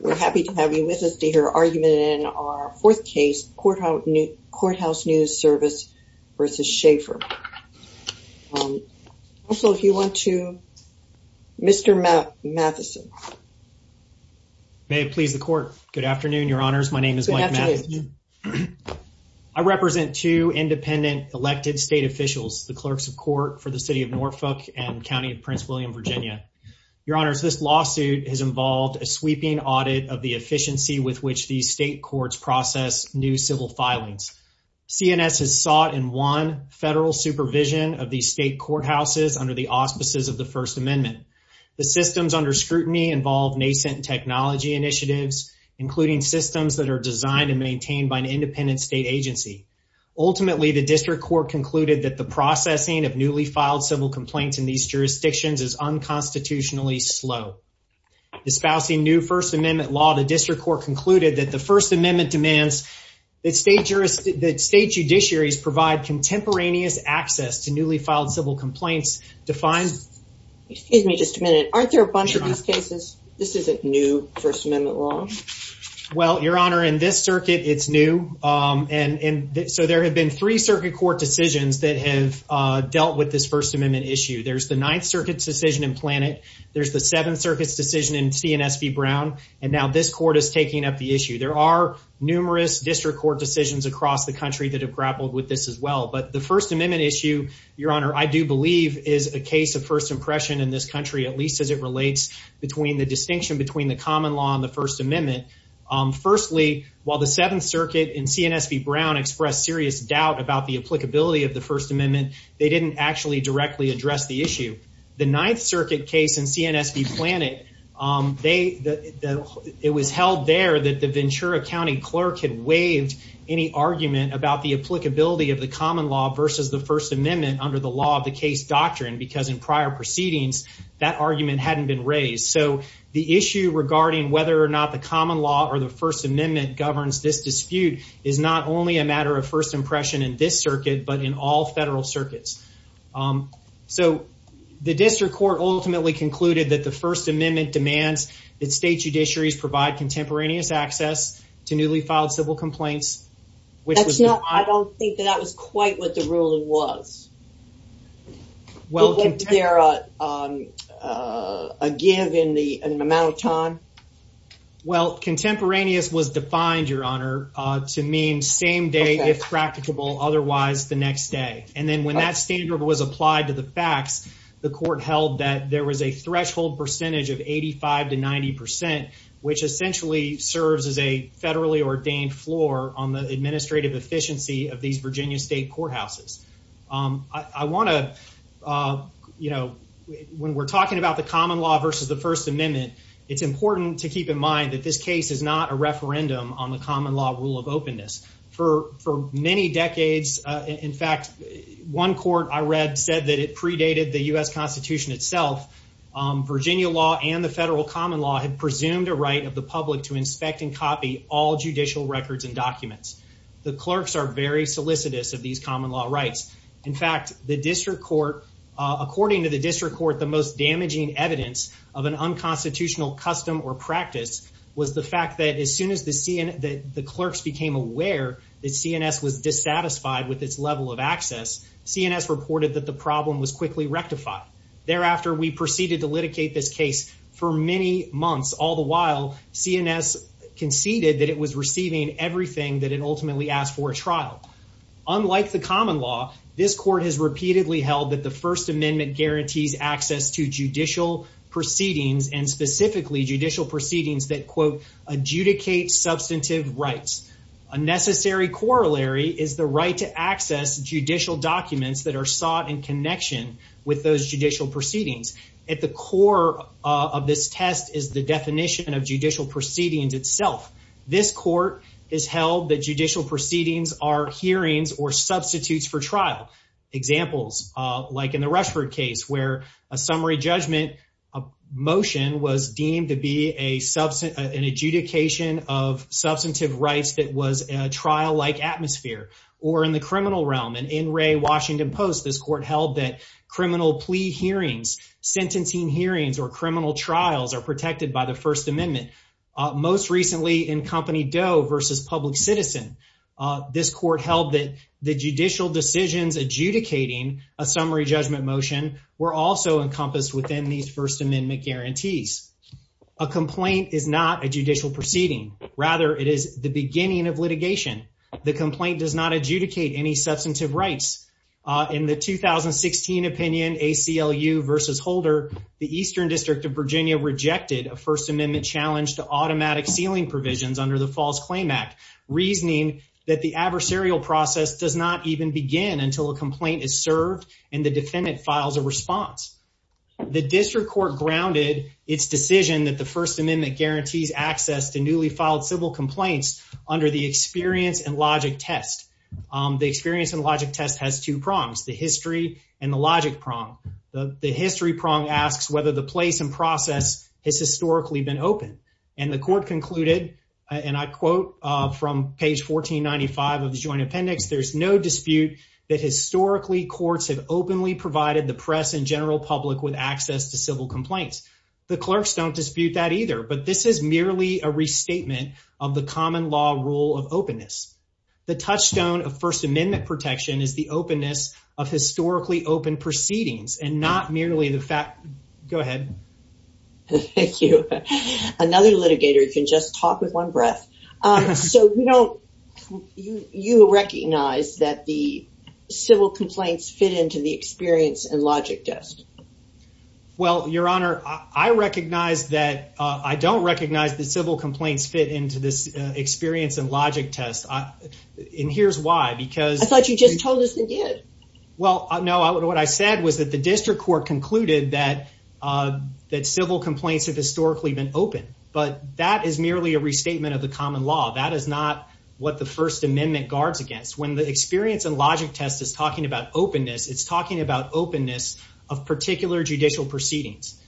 We're happy to have you with us to hear argument in our fourth case, Courthouse News Service v. Schaefer. Also, if you want to, Mr. Matheson. May it please the court. Good afternoon, your honors. My name is Mike Matheson. I represent two independent elected state officials, the clerks of court for the city of Norfolk and county of Prince William, Virginia. Your honors, this lawsuit has involved a sweeping audit of the efficiency with which these state courts process new civil filings. CNS has sought and won federal supervision of these state courthouses under the auspices of the First Amendment. The systems under scrutiny involve nascent technology initiatives, including systems that are designed and maintained by an independent state agency. Ultimately, the district court concluded that the processing of newly filed civil complaints in these jurisdictions is unconstitutionally slow. Disposing new First Amendment law, the district court concluded that the First Amendment demands that state jurisdictions that state judiciaries provide contemporaneous access to newly filed civil complaints defined. Excuse me just a minute. Aren't there a bunch of these cases? This isn't new First Amendment law. Well, your honor, in this circuit, it's new. And so there have been three circuit court decisions that have dealt with this First Amendment issue. There's the Ninth Circuit's decision in Planet. There's the Seventh Circuit's decision in CNSB Brown. And now this court is taking up the issue. There are numerous district court decisions across the country that have grappled with this as well. But the First Amendment issue, your honor, I do believe is a case of first impression in this country, at least as it relates between the distinction between the common law and the First Amendment. Firstly, while the Seventh Circuit and CNSB Brown expressed serious doubt about the applicability of the First Amendment, they didn't actually directly address the issue. The Ninth Circuit case in CNSB Planet, it was held there that the Ventura County clerk had waived any argument about the applicability of the common law versus the First Amendment under the law of the case doctrine because in prior proceedings, that argument hadn't been raised. So the issue regarding whether or not the common law or the First Amendment governs this dispute is not only a matter of first impression in this circuit, but in all federal circuits. So the district court ultimately concluded that the First Amendment demands that state judiciaries provide contemporaneous access to newly filed civil complaints, which was not... I don't think that that was quite what the ruling was. Was there a give in the amount of time? Well, contemporaneous was defined, Your Honor, to mean same day if practicable, otherwise the next day. And then when that standard was applied to the facts, the court held that there was a threshold percentage of 85 to 90 percent, which essentially serves as a federally ordained floor on the administrative efficiency of these you know, when we're talking about the common law versus the First Amendment, it's important to keep in mind that this case is not a referendum on the common law rule of openness. For many decades, in fact, one court I read said that it predated the U.S. Constitution itself. Virginia law and the federal common law had presumed a right of the public to inspect and copy all judicial records and documents. The clerks are very solicitous of these common law rights. In fact, the district court, according to the district court, the most damaging evidence of an unconstitutional custom or practice was the fact that as soon as the clerks became aware that CNS was dissatisfied with its level of access, CNS reported that the problem was quickly rectified. Thereafter, we proceeded to litigate this case for many months. All the while, CNS conceded that it was receiving everything that it ultimately asked for a trial. Unlike the common law, this court has repeatedly held that the First Amendment guarantees access to judicial proceedings and specifically judicial proceedings that, quote, adjudicate substantive rights. A necessary corollary is the right to access judicial documents that are sought in connection with those judicial proceedings. At the core of this test is the definition of judicial proceedings are hearings or substitutes for trial. Examples, like in the Rushford case, where a summary judgment motion was deemed to be an adjudication of substantive rights that was a trial-like atmosphere. Or in the criminal realm, in N. Ray Washington Post, this court held that criminal plea hearings, sentencing hearings, or criminal trials are protected by the First Amendment. This court held that the judicial decisions adjudicating a summary judgment motion were also encompassed within these First Amendment guarantees. A complaint is not a judicial proceeding. Rather, it is the beginning of litigation. The complaint does not adjudicate any substantive rights. In the 2016 opinion, ACLU v. Holder, the Eastern District of Virginia rejected a First Amendment challenge to automatic sealing provisions under the False Claim Act, reasoning that the adversarial process does not even begin until a complaint is served and the defendant files a response. The district court grounded its decision that the First Amendment guarantees access to newly filed civil complaints under the experience and logic test. The experience and logic test has two prongs, the history and the logic prong. The history prong asks whether the place and process has historically been open. And the court concluded, and I quote from page 1495 of the Joint Appendix, there's no dispute that historically courts have openly provided the press and general public with access to civil complaints. The clerks don't dispute that either, but this is merely a restatement of the common law rule of openness. The touchstone of First Amendment protection is openness of historically open proceedings and not merely the fact... Go ahead. Thank you. Another litigator can just talk with one breath. So, you know, you recognize that the civil complaints fit into the experience and logic test. Well, Your Honor, I recognize that... I don't recognize that civil complaints fit into this experience and logic test. And here's why, because... I thought you just told us they did. Well, no, what I said was that the district court concluded that civil complaints have historically been open, but that is merely a restatement of the common law. That is not what the First Amendment guards against. When the experience and logic test is talking about openness, it's talking about openness of particular judicial proceedings.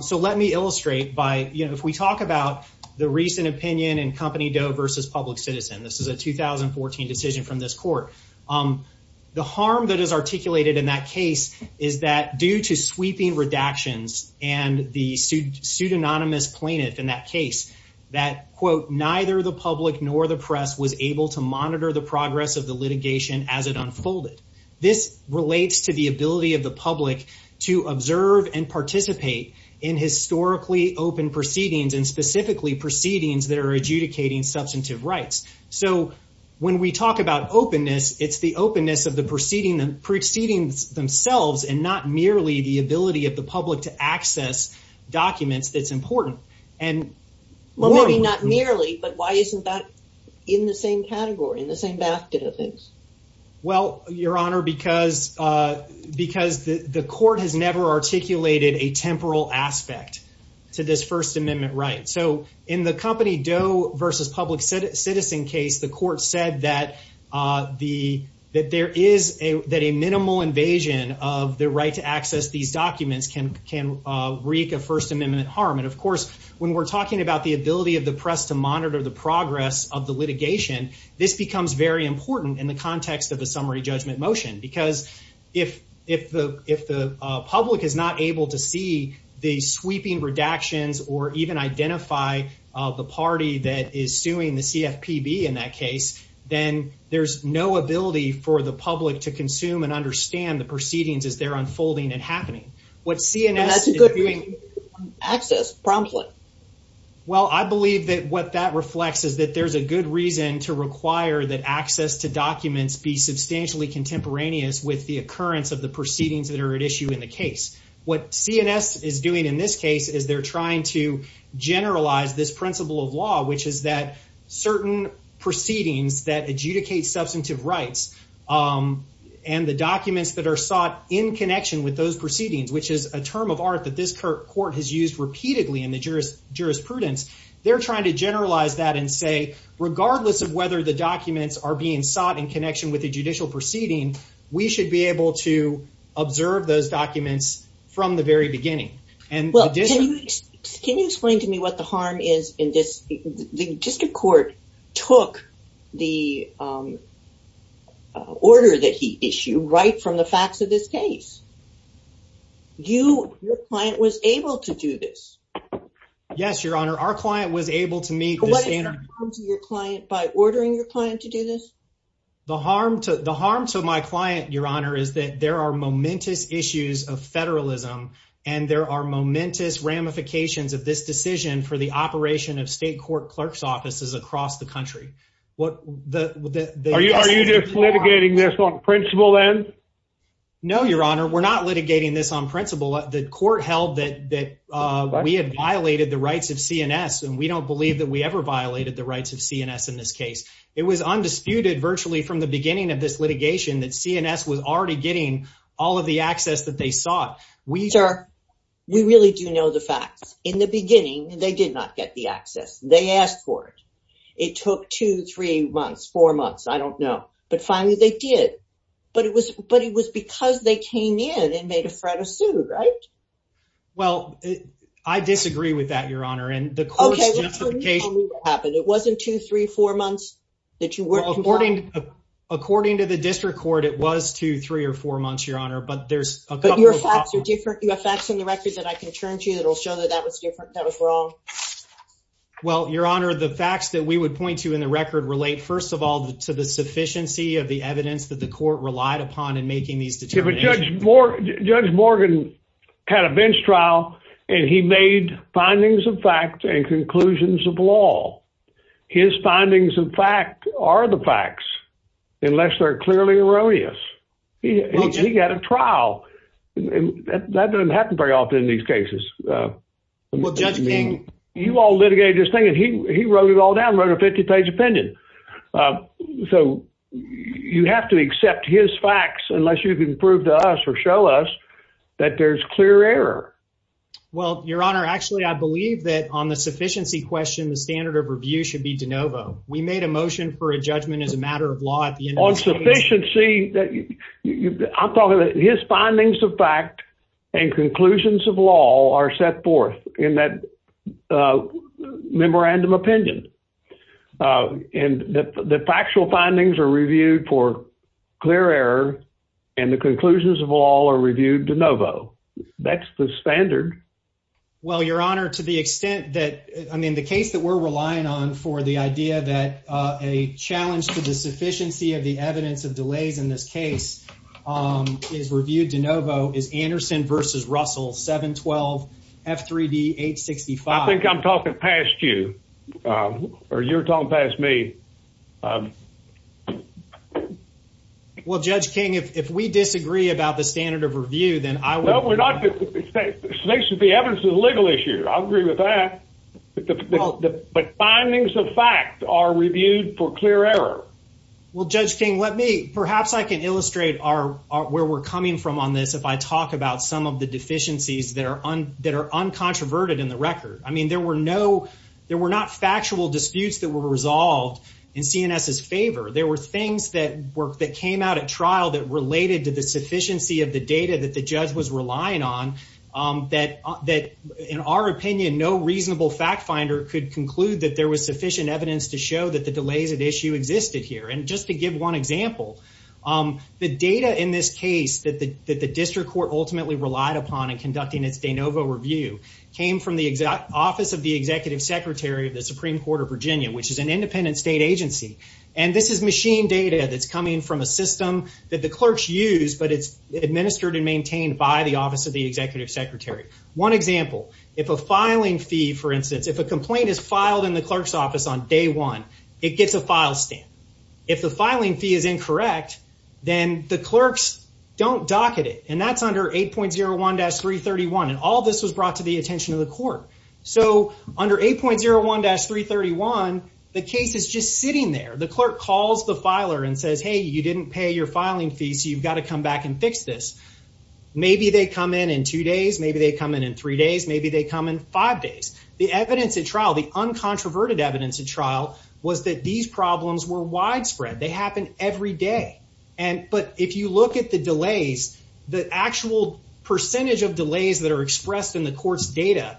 So let me illustrate by, you know, if we talk about the recent opinion in Company Doe versus Public Citizen. This is a 2014 decision from this court. The harm that is articulated in that case is that due to sweeping redactions and the pseudonymous plaintiff in that case, that, quote, neither the public nor the press was able to monitor the progress of the litigation as it unfolded. This relates to the ability of the public to observe and participate in historically open proceedings and specifically proceedings that are adjudicating substantive rights. So when we talk about openness, it's the openness of the proceedings themselves and not merely the ability of the public to access documents that's important. And... Well, maybe not merely, but why isn't that in the same category, in the same basket of things? Well, Your Honor, because because the court has never articulated a temporal aspect to this First Amendment right. So in the Company Doe versus Public Citizen case, the court said that there is a minimal invasion of the right to access these documents can wreak a First Amendment harm. And of course, when we're talking about the ability of the press to monitor the progress of the litigation, this becomes very important. If the public is not able to see the sweeping redactions or even identify the party that is suing the CFPB in that case, then there's no ability for the public to consume and understand the proceedings as they're unfolding and happening. What CNS is doing... Access promptly. Well, I believe that what that reflects is that there's a good reason to require that access to of the proceedings that are at issue in the case. What CNS is doing in this case is they're trying to generalize this principle of law, which is that certain proceedings that adjudicate substantive rights and the documents that are sought in connection with those proceedings, which is a term of art that this court has used repeatedly in the jurisprudence. They're trying to generalize that and say, regardless of whether the documents are being sought in connection with the judicial proceeding, we should be able to observe those documents from the very beginning. Can you explain to me what the harm is in this? The district court took the order that he issued right from the facts of this case. Your client was able to do this. Yes, Your Honor. Our client was able to meet the standard. What is the harm to your client by ordering your client to do this? The harm to the harm to my client, Your Honor, is that there are momentous issues of federalism and there are momentous ramifications of this decision for the operation of state court clerk's offices across the country. What are you just litigating this on principle then? No, Your Honor, we're not litigating this on principle. The court held that we had violated the rights of CNS and we don't believe that we ever violated the rights of CNS in this case. It was undisputed virtually from the beginning of this litigation that CNS was already getting all of the access that they sought. We really do know the facts. In the beginning, they did not get the access. They asked for it. It took two, three months, four months. I don't know. But finally they did. But it was because they came in and made a threat of sue, right? Well, I disagree with that, Your Honor. And the court's justification... It wasn't two, three, four months that you weren't compliant. According to the district court, it was two, three or four months, Your Honor. But there's a couple of... But your facts are different. You have facts in the record that I can turn to you that will show that that was different, that was wrong. Well, Your Honor, the facts that we would point to in the record relate, first of all, to the sufficiency of the evidence that the court relied upon in making these determinations. Judge Morgan had a bench trial and he made findings of fact and conclusions of law. His findings of fact are the facts unless they're clearly erroneous. He got a trial. That doesn't happen very often in these cases. Well, Judge King... You all litigated this thing and he wrote it all down, wrote a 50-page opinion. So you have to accept his facts unless you can prove to us or show us that there's clear error. Well, Your Honor, actually, I believe that on the sufficiency question, the standard of review should be de novo. We made a motion for a judgment as a matter of law. On sufficiency, I'm talking about his findings of fact and conclusions of law are set forth in that memorandum opinion. And the factual findings are reviewed for clear error and the conclusions of law are reviewed de novo. That's the standard. Well, Your Honor, to the extent that, I mean, the case that we're relying on for the idea that a challenge to the sufficiency of the evidence of delays in this case is reviewed de novo is Anderson v. Russell, 712 F3D 865. I think I'm talking past you or you're talking past me. Well, Judge King, if we disagree about the standard of review, then I will... There should be evidence of the legal issue. I agree with that. But findings of fact are reviewed for clear error. Well, Judge King, let me, perhaps I can illustrate where we're coming from on this if I talk about some of the deficiencies that are uncontroverted in the record. I mean, there were not factual disputes that were resolved in CNS's favor. There were things that came out at trial that related to the sufficiency of the data that the judge was relying on that, in our opinion, no reasonable fact finder could conclude that there was sufficient evidence to show that the delays at issue existed here. And just to give one example, the data in this case that the district court ultimately relied upon in conducting its de novo review came from the Office of the Executive Secretary of the Supreme Court of Virginia, which is an independent state agency. And this is machine data that's administered and maintained by the Office of the Executive Secretary. One example, if a filing fee, for instance, if a complaint is filed in the clerk's office on day one, it gets a file stamp. If the filing fee is incorrect, then the clerks don't docket it. And that's under 8.01-331. And all this was brought to the attention of the court. So under 8.01-331, the case is just sitting there. The clerk calls the filer and says, hey, you didn't pay your filing fee. I'm going to go back and fix this. Maybe they come in in two days. Maybe they come in in three days. Maybe they come in five days. The evidence at trial, the uncontroverted evidence at trial, was that these problems were widespread. They happen every day. But if you look at the delays, the actual percentage of delays that are expressed in the court's data,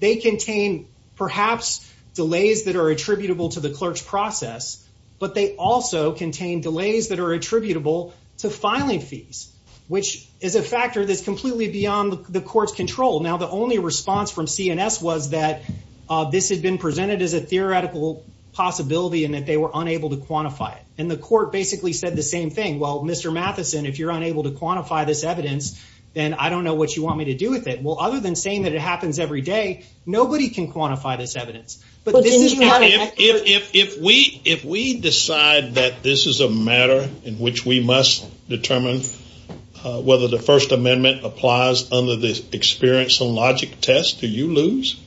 they contain perhaps delays that are attributable to the clerk's process, but they also contain delays that are attributable to filing fees, which is a factor that's completely beyond the court's control. Now, the only response from CNS was that this had been presented as a theoretical possibility and that they were unable to quantify it. And the court basically said the same thing. Well, Mr. Matheson, if you're unable to quantify this evidence, then I don't know what you want me to do with it. Well, other than saying that it happens every day, nobody can quantify this matter in which we must determine whether the First Amendment applies under the experience and logic test. Do you lose?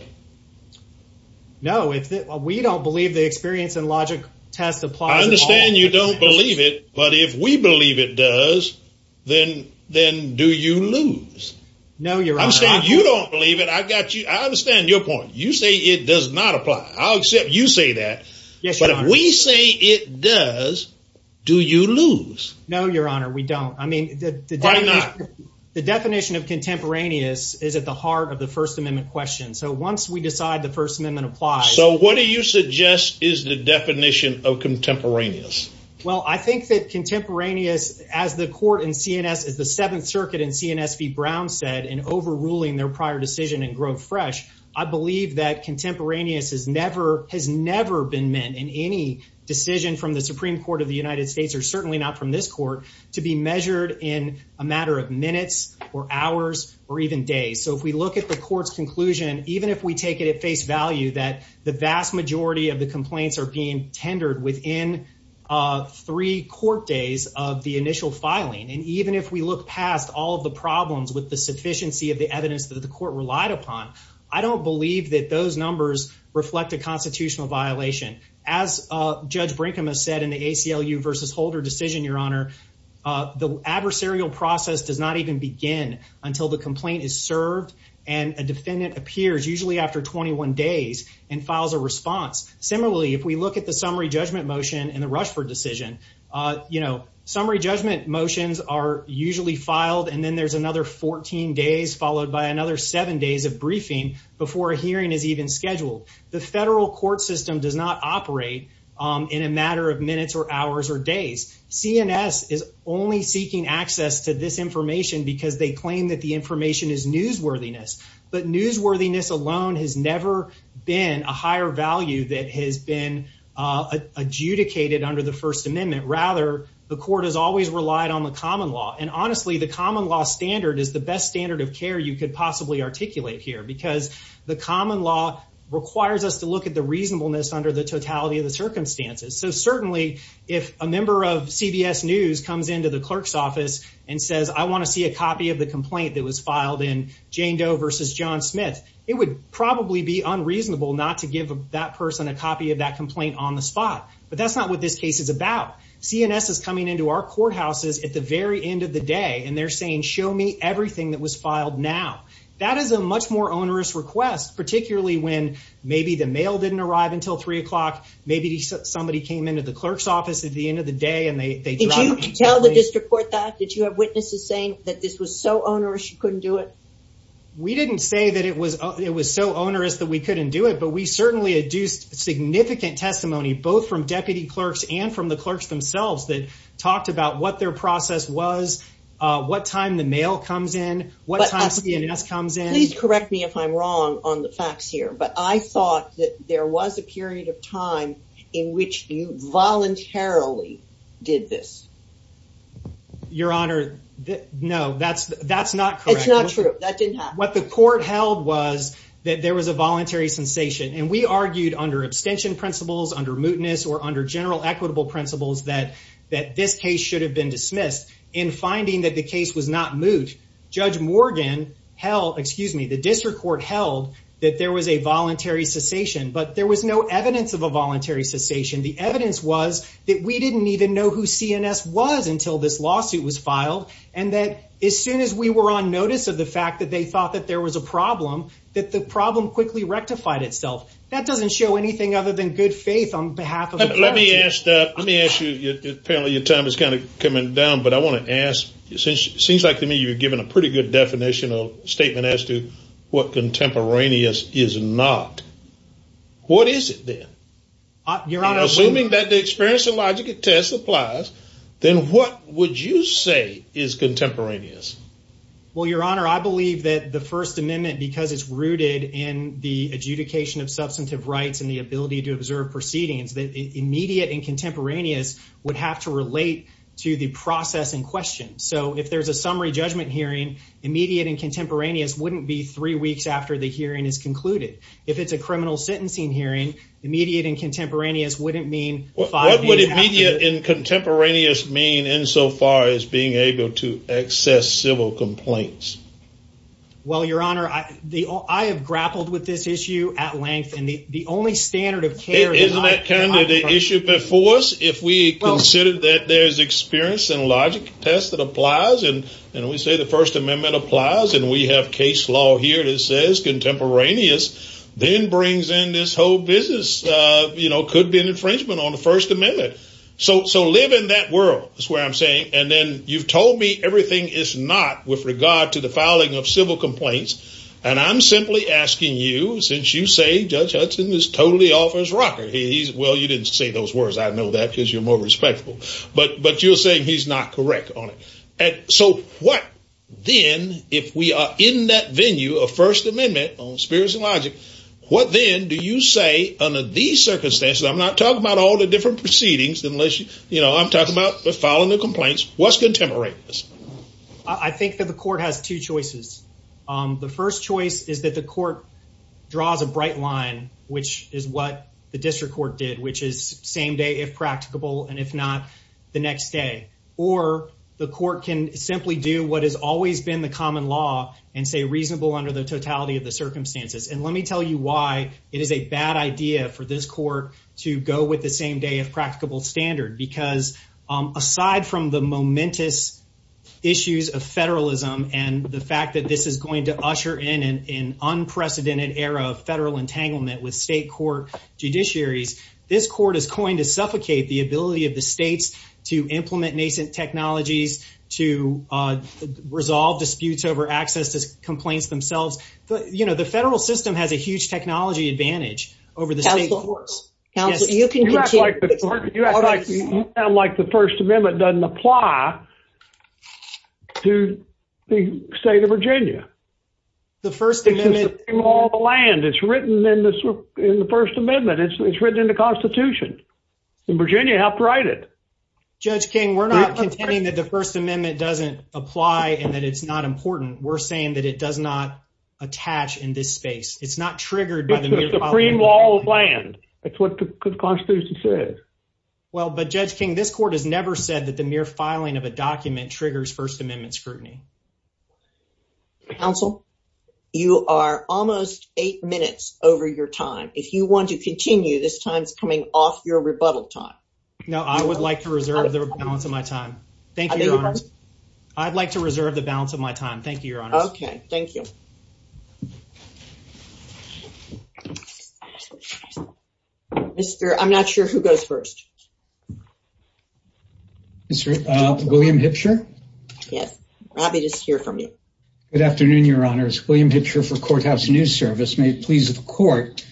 No. We don't believe the experience and logic test applies. I understand you don't believe it, but if we believe it does, then do you lose? No, Your Honor. I understand you don't believe it. I understand your point. You say it does not lose. No, Your Honor. We don't. I mean, why not? The definition of contemporaneous is at the heart of the First Amendment question. So once we decide the First Amendment applies. So what do you suggest is the definition of contemporaneous? Well, I think that contemporaneous, as the court in CNS, as the Seventh Circuit in CNS v. Brown said in overruling their prior decision in Grove Fresh, I believe that contemporaneous has never been meant in any decision from the Supreme Court of the United States, or certainly not from this court, to be measured in a matter of minutes or hours or even days. So if we look at the court's conclusion, even if we take it at face value that the vast majority of the complaints are being tendered within three court days of the initial filing, and even if we look past all of the problems with the sufficiency of the evidence that the court relied upon, I don't believe that those numbers reflect a constitutional violation. As Judge Brinkham has said in the ACLU v. Holder decision, Your Honor, the adversarial process does not even begin until the complaint is served and a defendant appears, usually after 21 days, and files a response. Similarly, if we look at the summary judgment motion in the Rushford decision, you know, summary judgment motions are usually filed, and then there's another 14 days followed by another seven days of briefing before a hearing is even scheduled. The federal court system does not operate in a matter of minutes or hours or days. CNS is only seeking access to this information because they claim that the information is newsworthiness, but newsworthiness alone has never been a higher value that has been adjudicated under the First Amendment. Rather, the court has always relied on the common law, and honestly, the common law standard is the best standard of care you could possibly articulate here, because the common law requires us to look at the reasonableness under the totality of the circumstances. So certainly, if a member of CBS News comes into the clerk's office and says, I want to see a copy of the complaint that was filed in Jane Doe v. John Smith, it would probably be unreasonable not to give that person a copy of that complaint on the spot. But that's not what this case is about. CNS is coming into our courthouses at the very end of the day, and they're saying, show me everything that was filed now. That is a much more onerous request, particularly when maybe the mail didn't arrive until three o'clock, maybe somebody came into the clerk's office at the end of the day, and they dropped it. Did you tell the district court that? Did you have witnesses saying that this was so onerous you couldn't do it? We didn't say that it was so onerous that we couldn't do it, but we certainly adduced significant testimony, both from deputy clerks and from the clerks themselves, that talked about what their process was, what time the mail comes in, what time CNS comes in. Please correct me if I'm wrong on the facts here, but I thought that there was a period of time in which you voluntarily did this. Your Honor, no, that's not correct. It's not true. That didn't happen. What the court held was that there was a voluntary sensation, and we argued under abstention principles, under mootness, or under general equitable principles that this case should have been dismissed. In finding that the case was not moot, Judge Morgan held, excuse me, the district court held that there was a voluntary cessation, but there was no evidence of a voluntary cessation. The evidence was that we didn't even know who CNS was until this lawsuit was filed, and that as soon as we were on notice of the fact that they thought that there was a problem, that the problem quickly rectified itself. That doesn't show anything other than good faith on behalf of the clergy. Let me ask you, apparently your time is kind of statement as to what contemporaneous is not. What is it then? Assuming that the experience and logic test applies, then what would you say is contemporaneous? Well, Your Honor, I believe that the First Amendment, because it's rooted in the adjudication of substantive rights and the ability to observe proceedings, that immediate and contemporaneous would have to relate to the process in question. So if there's a summary judgment hearing, immediate and contemporaneous wouldn't be three weeks after the hearing is concluded. If it's a criminal sentencing hearing, immediate and contemporaneous wouldn't mean- What would immediate and contemporaneous mean insofar as being able to access civil complaints? Well, Your Honor, I have grappled with this issue at length, and the only standard of care- Isn't that kind of the issue before us? If we consider that there's experience and logic test that applies, and we say the First Amendment applies, and we have case law here that says contemporaneous, then brings in this whole business, could be an infringement on the First Amendment. So live in that world is where I'm saying, and then you've told me everything is not with regard to the filing of civil complaints, and I'm simply asking you, since you say Judge Hudson is totally off his rocker. Well, you didn't say those words, I know that because you're more on it. So what then, if we are in that venue of First Amendment on experience and logic, what then do you say under these circumstances? I'm not talking about all the different proceedings, unless I'm talking about filing the complaints, what's contemporaneous? I think that the court has two choices. The first choice is that the court draws a bright line, which is what the district court did, which is same day if practicable, and if not, the next day. Or the court can simply do what has always been the common law and say reasonable under the totality of the circumstances. And let me tell you why it is a bad idea for this court to go with the same day of practicable standard, because aside from the momentous issues of federalism and the fact that this is going to usher in an unprecedented era of federal entanglement with state court judiciaries, this court is going to suffocate the ability of the states to implement nascent technologies, to resolve disputes over access to complaints themselves. The federal system has a huge technology advantage over the state courts. You act like the First Amendment doesn't apply to the state of Virginia. The First Amendment... It's the Supreme Law of the land. It's written in the First Amendment. It's written in the Constitution. In Virginia, you have to write it. Judge King, we're not contending that the First Amendment doesn't apply and that it's not important. We're saying that it does not attach in this space. It's not triggered by the mere... It's the Supreme Law of land. That's what the Constitution says. Well, but Judge King, this court has never said that the mere filing of a document triggers First Amendment scrutiny. Counsel, you are almost eight minutes over your time. If you want to continue, this time is coming off your rebuttal time. No, I would like to reserve the balance of my time. Thank you, Your Honor. I'd like to reserve the balance of my time. Thank you, Your Honor. Okay. Thank you. I'm not sure who goes first. Mr. William Hipsher? Yes. I'll be just here for a minute. Good afternoon, Your Honors. William Hipsher for Courthouse News Service. May it please the court.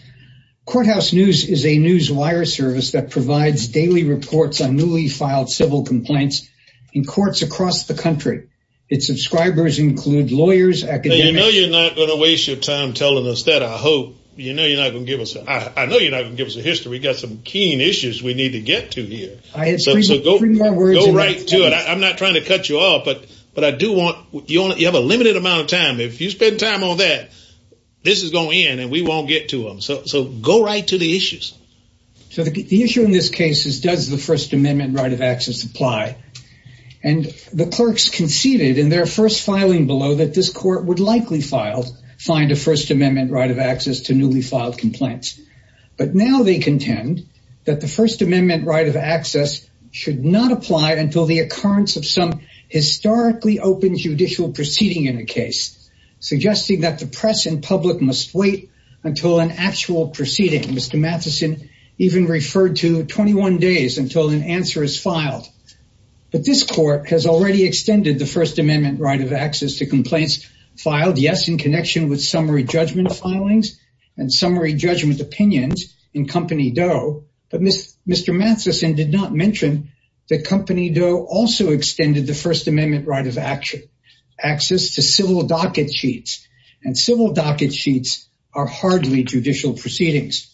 Courthouse News is a newswire service that provides daily reports on newly filed civil complaints in courts across the country. Its subscribers include lawyers, academics... You know you're not going to waste your time telling us that, I hope. You know you're not going to give us a... I know you're not going to give us a history. We've got some keen issues we need to get to here. So go right to it. I'm not trying to cut you off, but you have a limited amount of time. If you spend time on that, this is going to end and we won't get to them. So go right to the issues. So the issue in this case is does the First Amendment right of access apply? And the clerks conceded in their first filing below that this court would likely find a First Amendment right of access should not apply until the occurrence of some historically open judicial proceeding in a case, suggesting that the press and public must wait until an actual proceeding. Mr. Matheson even referred to 21 days until an answer is filed. But this court has already extended the First Amendment right of access to complaints filed, yes, in connection with summary judgment. Mr. Matheson did not mention that Company Doe also extended the First Amendment right of access to civil docket sheets. And civil docket sheets are hardly judicial proceedings.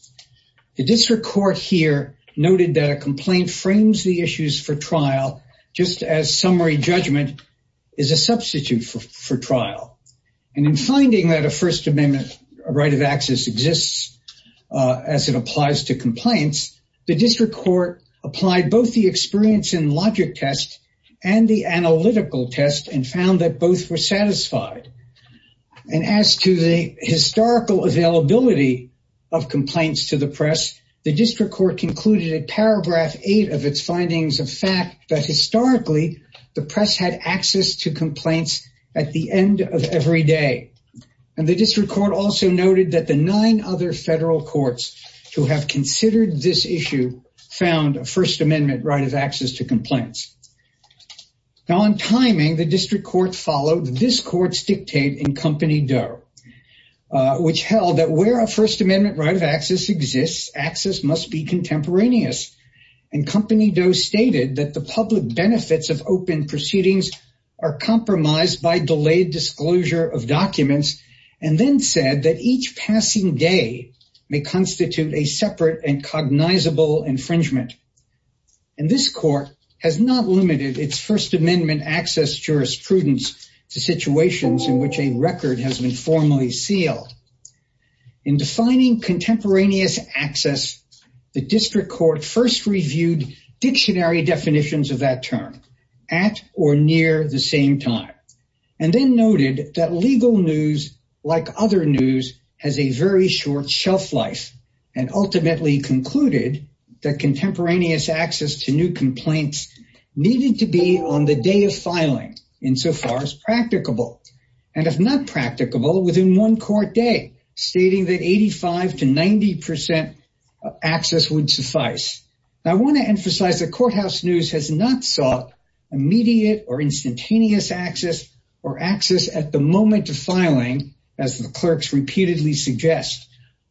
The district court here noted that a complaint frames the issues for trial just as summary judgment is a substitute for trial. And in finding that a First Amendment right of access exists as it applies to complaints, the district court applied both the experience and logic test and the analytical test and found that both were satisfied. And as to the historical availability of complaints to the press, the district court concluded in paragraph eight of its findings of fact that historically the press had access to complaints at the end of every day. And the federal courts who have considered this issue found a First Amendment right of access to complaints. Now in timing, the district court followed this court's dictate in Company Doe, which held that where a First Amendment right of access exists, access must be contemporaneous. And Company Doe stated that the public benefits of open proceedings are compromised by delayed disclosure of documents and then said that each passing day may constitute a separate and cognizable infringement. And this court has not limited its First Amendment access jurisprudence to situations in which a record has been formally sealed. In defining contemporaneous access, the district court first reviewed dictionary definitions of that term at or near the same time and then noted that legal news, like other news, has a very short shelf life and ultimately concluded that contemporaneous access to new complaints needed to be on the day of filing insofar as practicable. And if not practicable, within one court day, stating that 85 to 90 access would suffice. I want to emphasize that courthouse news has not sought immediate or access at the moment of filing, as the clerks repeatedly suggest.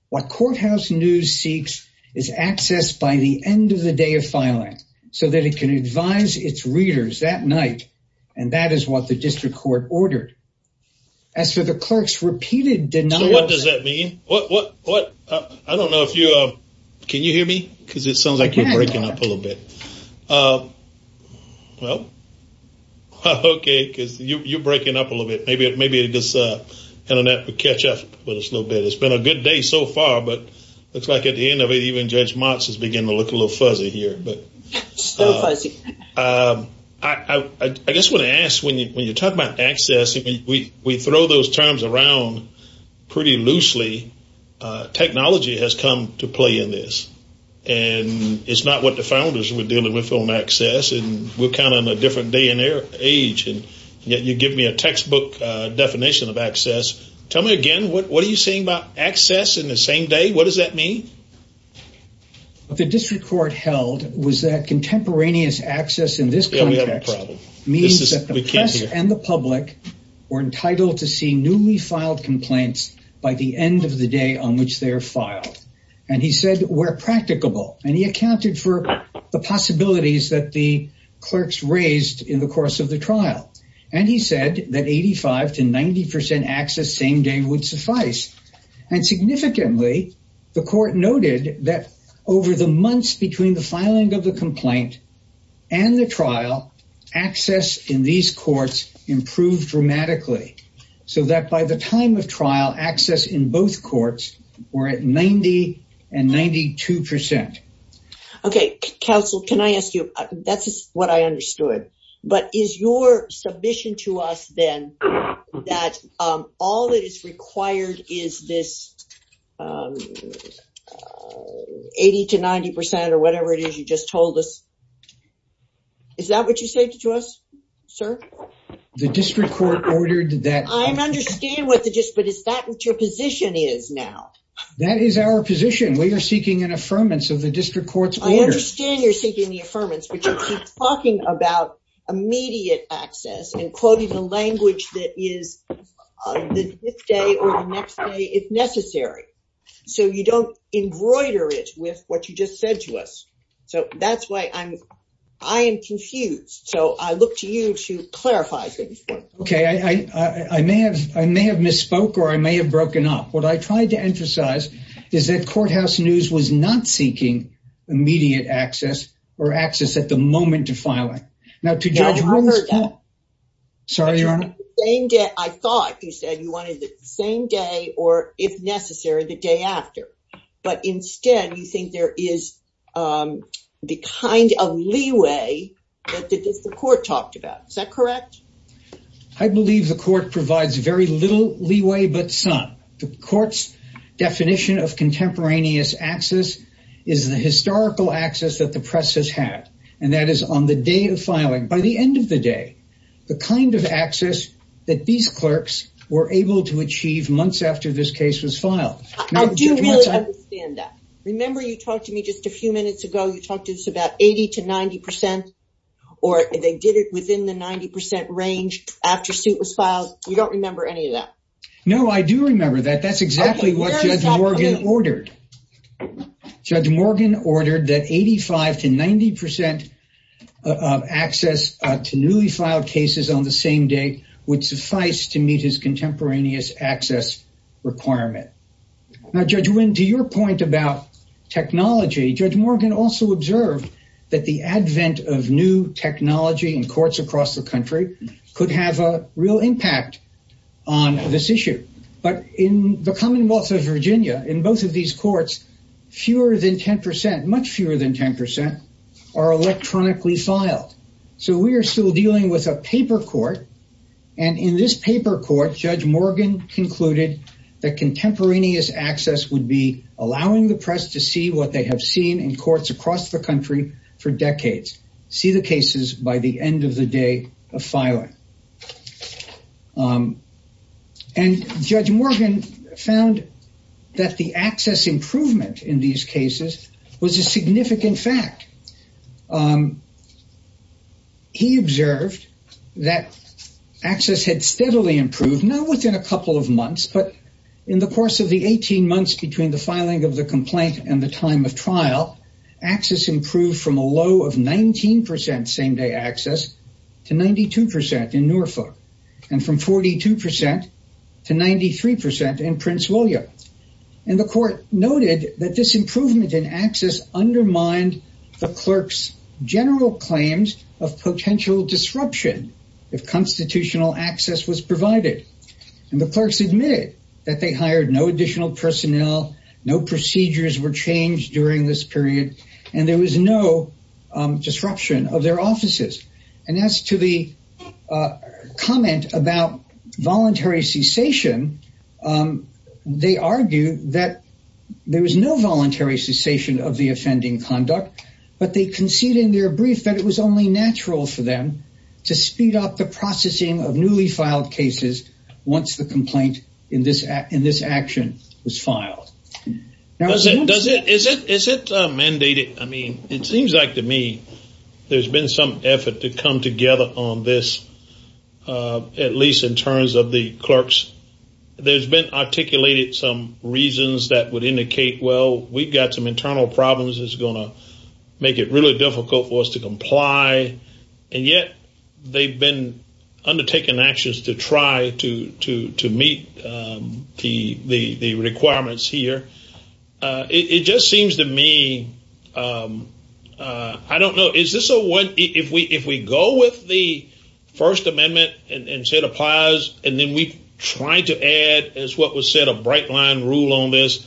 What courthouse news seeks is access by the end of the day of filing so that it can advise its readers that night. And that is what the district court ordered. As for the clerk's repeated denial... So what does that mean? I don't know if you... Can you hear me? Because it sounds like you're breaking up. Okay, because you're breaking up a little bit. Maybe this internet will catch up with us a little bit. It's been a good day so far, but it looks like at the end of it, even Judge Motz is beginning to look a little fuzzy here. I just want to ask, when you talk about access, we throw those terms around pretty loosely. Technology has come to play in this. And it's not what the founders were dealing with on access. And we're kind of in a different day and age. And yet you give me a textbook definition of access. Tell me again, what are you saying about access in the same day? What does that mean? What the district court held was that contemporaneous access in this context means that the press and the public were entitled to see filed complaints by the end of the day on which they're filed. And he said, we're practicable. And he accounted for the possibilities that the clerks raised in the course of the trial. And he said that 85 to 90% access same day would suffice. And significantly, the court noted that over the months between the filing of the complaint and the trial, access in these courts improved dramatically. So that by the time of trial, access in both courts were at 90 and 92%. Okay, counsel, can I ask you, that's what I understood. But is your submission to us then that all that is required is this 80 to 90% or whatever it is you just told us? Is that what you said to us, sir? The district court ordered that- I understand what the just, but is that what your position is now? That is our position. We are seeking an affirmance of the district court's order. I understand you're seeking the affirmance, but you keep talking about immediate access and quoting the language that is the next day or the next day if necessary. So you don't embroider it with what you just said to us. So that's why I'm, I am confused. So I look to you to clarify things for me. Okay, I may have misspoke or I may have broken up. What I tried to emphasize is that Courthouse News was not seeking immediate access or access at the moment of filing. Now to judge- No, I heard that. Sorry, Your Honor. I thought you said you wanted the same day or if necessary, the day after. But instead, you think there is the kind of leeway that the court talked about. Is that correct? I believe the court provides very little leeway, but some. The court's definition of contemporaneous access is the historical access that the press has had. And that is on the day of filing. By the end of the day, the kind of access that these clerks were able to achieve months after this case was filed. I do really understand that. Remember, you talked to me just a few minutes ago, you talked to us about 80 to 90 percent, or they did it within the 90 percent range after suit was filed. You don't remember any of that. No, I do remember that. That's exactly what Judge Morgan ordered. Judge Morgan ordered that 85 to 90 percent of access to newly filed cases on the same day would suffice to meet his contemporaneous access requirement. Now, Judge Winn, to your point about technology, Judge Morgan also observed that the advent of new technology in courts across the country could have a real impact on this issue. But in the Commonwealth of Virginia, in both of these courts, fewer than 10 percent, much fewer than 10 percent are electronically filed. So we are still dealing with a paper court. And in this paper court, Judge Morgan concluded that contemporaneous access would be allowing the press to see what they have seen in courts across the country for decades. See the cases by the end of the day of filing. And Judge Morgan found that the access improvement in these cases was a significant fact. He observed that access had steadily improved, not within a couple of months, but in the course of the 18 months between the filing of the complaint and the time of trial, access improved from a low of 19 percent same day access to 92 percent in Norfolk and from 42 percent to 93 percent in Prince William. And the court noted that this improvement in access undermined the clerk's general claims of potential disruption if constitutional access was provided. And the clerks admitted that they hired no additional personnel. No procedures were disruption of their offices. And as to the comment about voluntary cessation, they argue that there was no voluntary cessation of the offending conduct, but they concede in their brief that it was only natural for them to speed up the processing of newly filed cases once the complaint in this in this action was filed. Does it does it is it is it mandated? I mean, it seems like to me there's been some effort to come together on this, at least in terms of the clerks. There's been articulated some reasons that would indicate, well, we've got some internal problems is going to make it really difficult for us to It just seems to me, I don't know, is this a one if we if we go with the First Amendment and say it applies and then we try to add as what was said a bright line rule on this.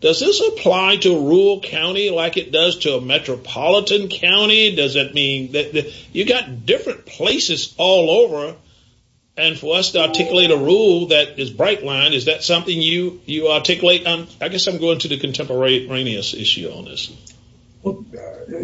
Does this apply to rural county like it does to a metropolitan county? Does that mean that you've got different places all over and for us to articulate a rule that is bright line? Is that something you you articulate I guess I'm going to the contemporaneous issue on this. Well,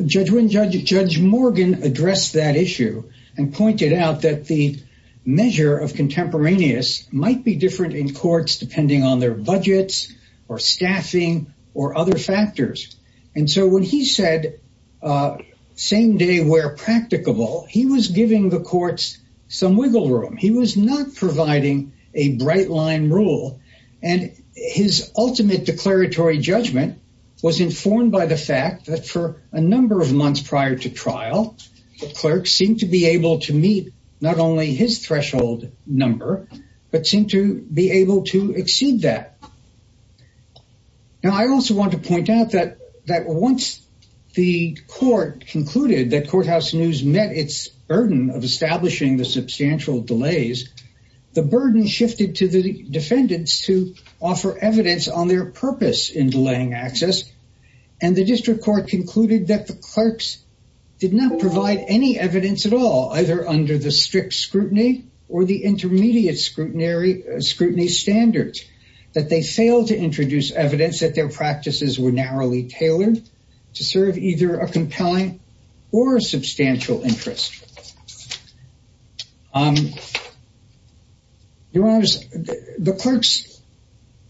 Judge Morgan addressed that issue and pointed out that the measure of contemporaneous might be different in courts, depending on their budgets or staffing or other factors. And so when he said same day where practicable, he was giving the courts some wiggle room. He was not providing a bright line rule and his ultimate declaratory judgment was informed by the fact that for a number of months prior to trial, the clerk seemed to be able to meet not only his threshold number, but seem to be able to exceed that. Now, I also want to point out that that once the court concluded that courthouse news met its of establishing the substantial delays, the burden shifted to the defendants to offer evidence on their purpose in delaying access. And the district court concluded that the clerks did not provide any evidence at all, either under the strict scrutiny or the intermediate scrutiny standards, that they failed to introduce evidence that their practices were narrowly tailored to serve either a compelling or substantial interest. Your Honor, the clerks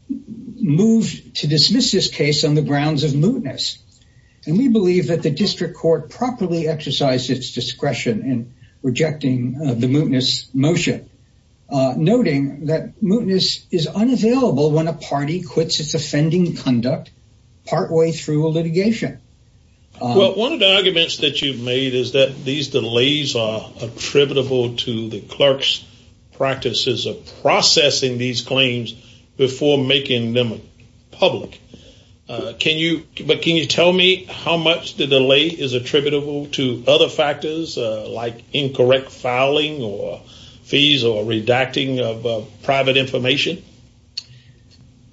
moved to dismiss this case on the grounds of mootness, and we believe that the district court properly exercised its discretion in rejecting the mootness motion, noting that mootness is unavailable when a party quits its offending conduct partway through a litigation. Well, one of the arguments that you've made is that these delays are attributable to the clerk's practices of processing these claims before making them public. But can you tell me how much the delay is attributable to other factors, like incorrect filing or fees or redacting of private information?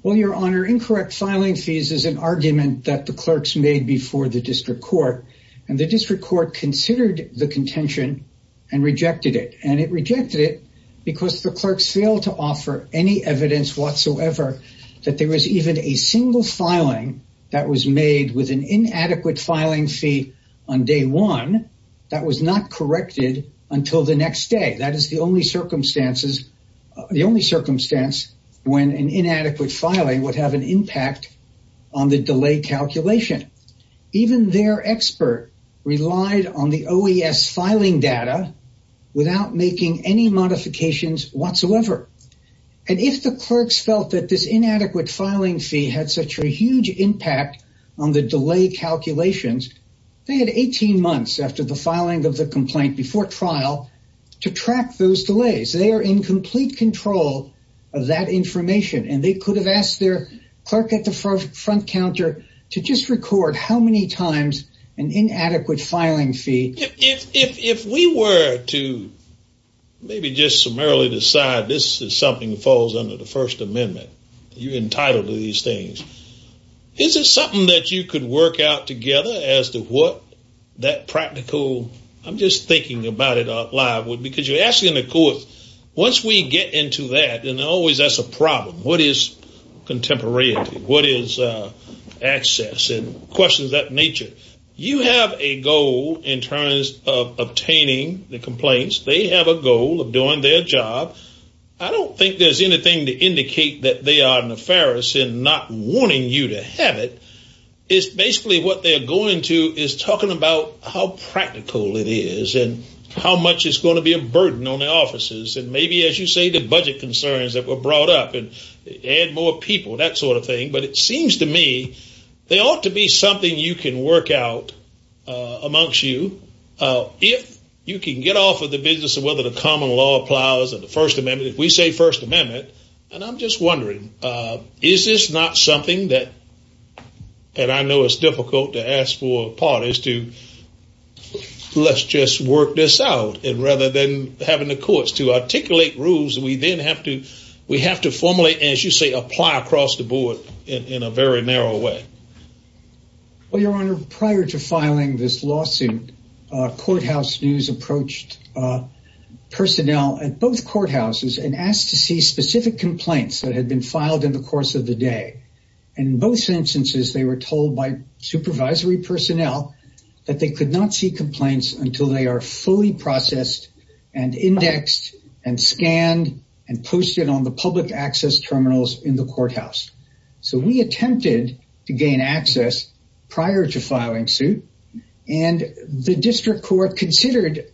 Well, Your Honor, incorrect filing fees is an argument that the clerks made before the district court, and the district court considered the contention and rejected it. And it rejected it because the clerks failed to offer any evidence whatsoever that there was even a single filing that was made with an inadequate filing fee on day one that was not corrected until the next day. That is the only circumstance when an inadequate filing would have an impact on the delay calculation. Even their expert relied on the OES filing data without making any modifications whatsoever. And if the clerks felt that this inadequate filing fee had such a huge impact on the delay calculations, they had 18 months after the filing of the complaint before trial to track those delays. They are in complete control of that front counter to just record how many times an inadequate filing fee. If we were to maybe just summarily decide this is something that falls under the First Amendment, you're entitled to these things. Is it something that you could work out together as to what that practical, I'm just thinking about it live, because you're asking the court, once we get into that, and always that's a problem, what is contemporary? What is access? And questions of that nature. You have a goal in terms of obtaining the complaints. They have a goal of doing their job. I don't think there's anything to indicate that they are nefarious in not wanting you to have it. It's basically what they're going to is talking about how practical it is and how much is going to be a burden on the officers and maybe as you say the budget concerns that were brought up and add more people, that sort of thing. But it seems to me there ought to be something you can work out amongst you if you can get off of the business of whether the common law applies or the First Amendment. If we say First Amendment, and I'm just wondering, is this not something that, and I know it's difficult to ask for parties to let's just work this out and rather than having the courts to articulate rules, we then have to formulate, as you say, apply across the board in a very narrow way. Well, Your Honor, prior to filing this lawsuit, courthouse news approached personnel at both courthouses and asked to see specific complaints that had been filed in the course of the day. In both instances, they were told by supervisory personnel that they could not see complaints until they are fully processed and indexed and scanned and posted on the public access terminals in the courthouse. So we attempted to gain access prior to filing suit and the district court considered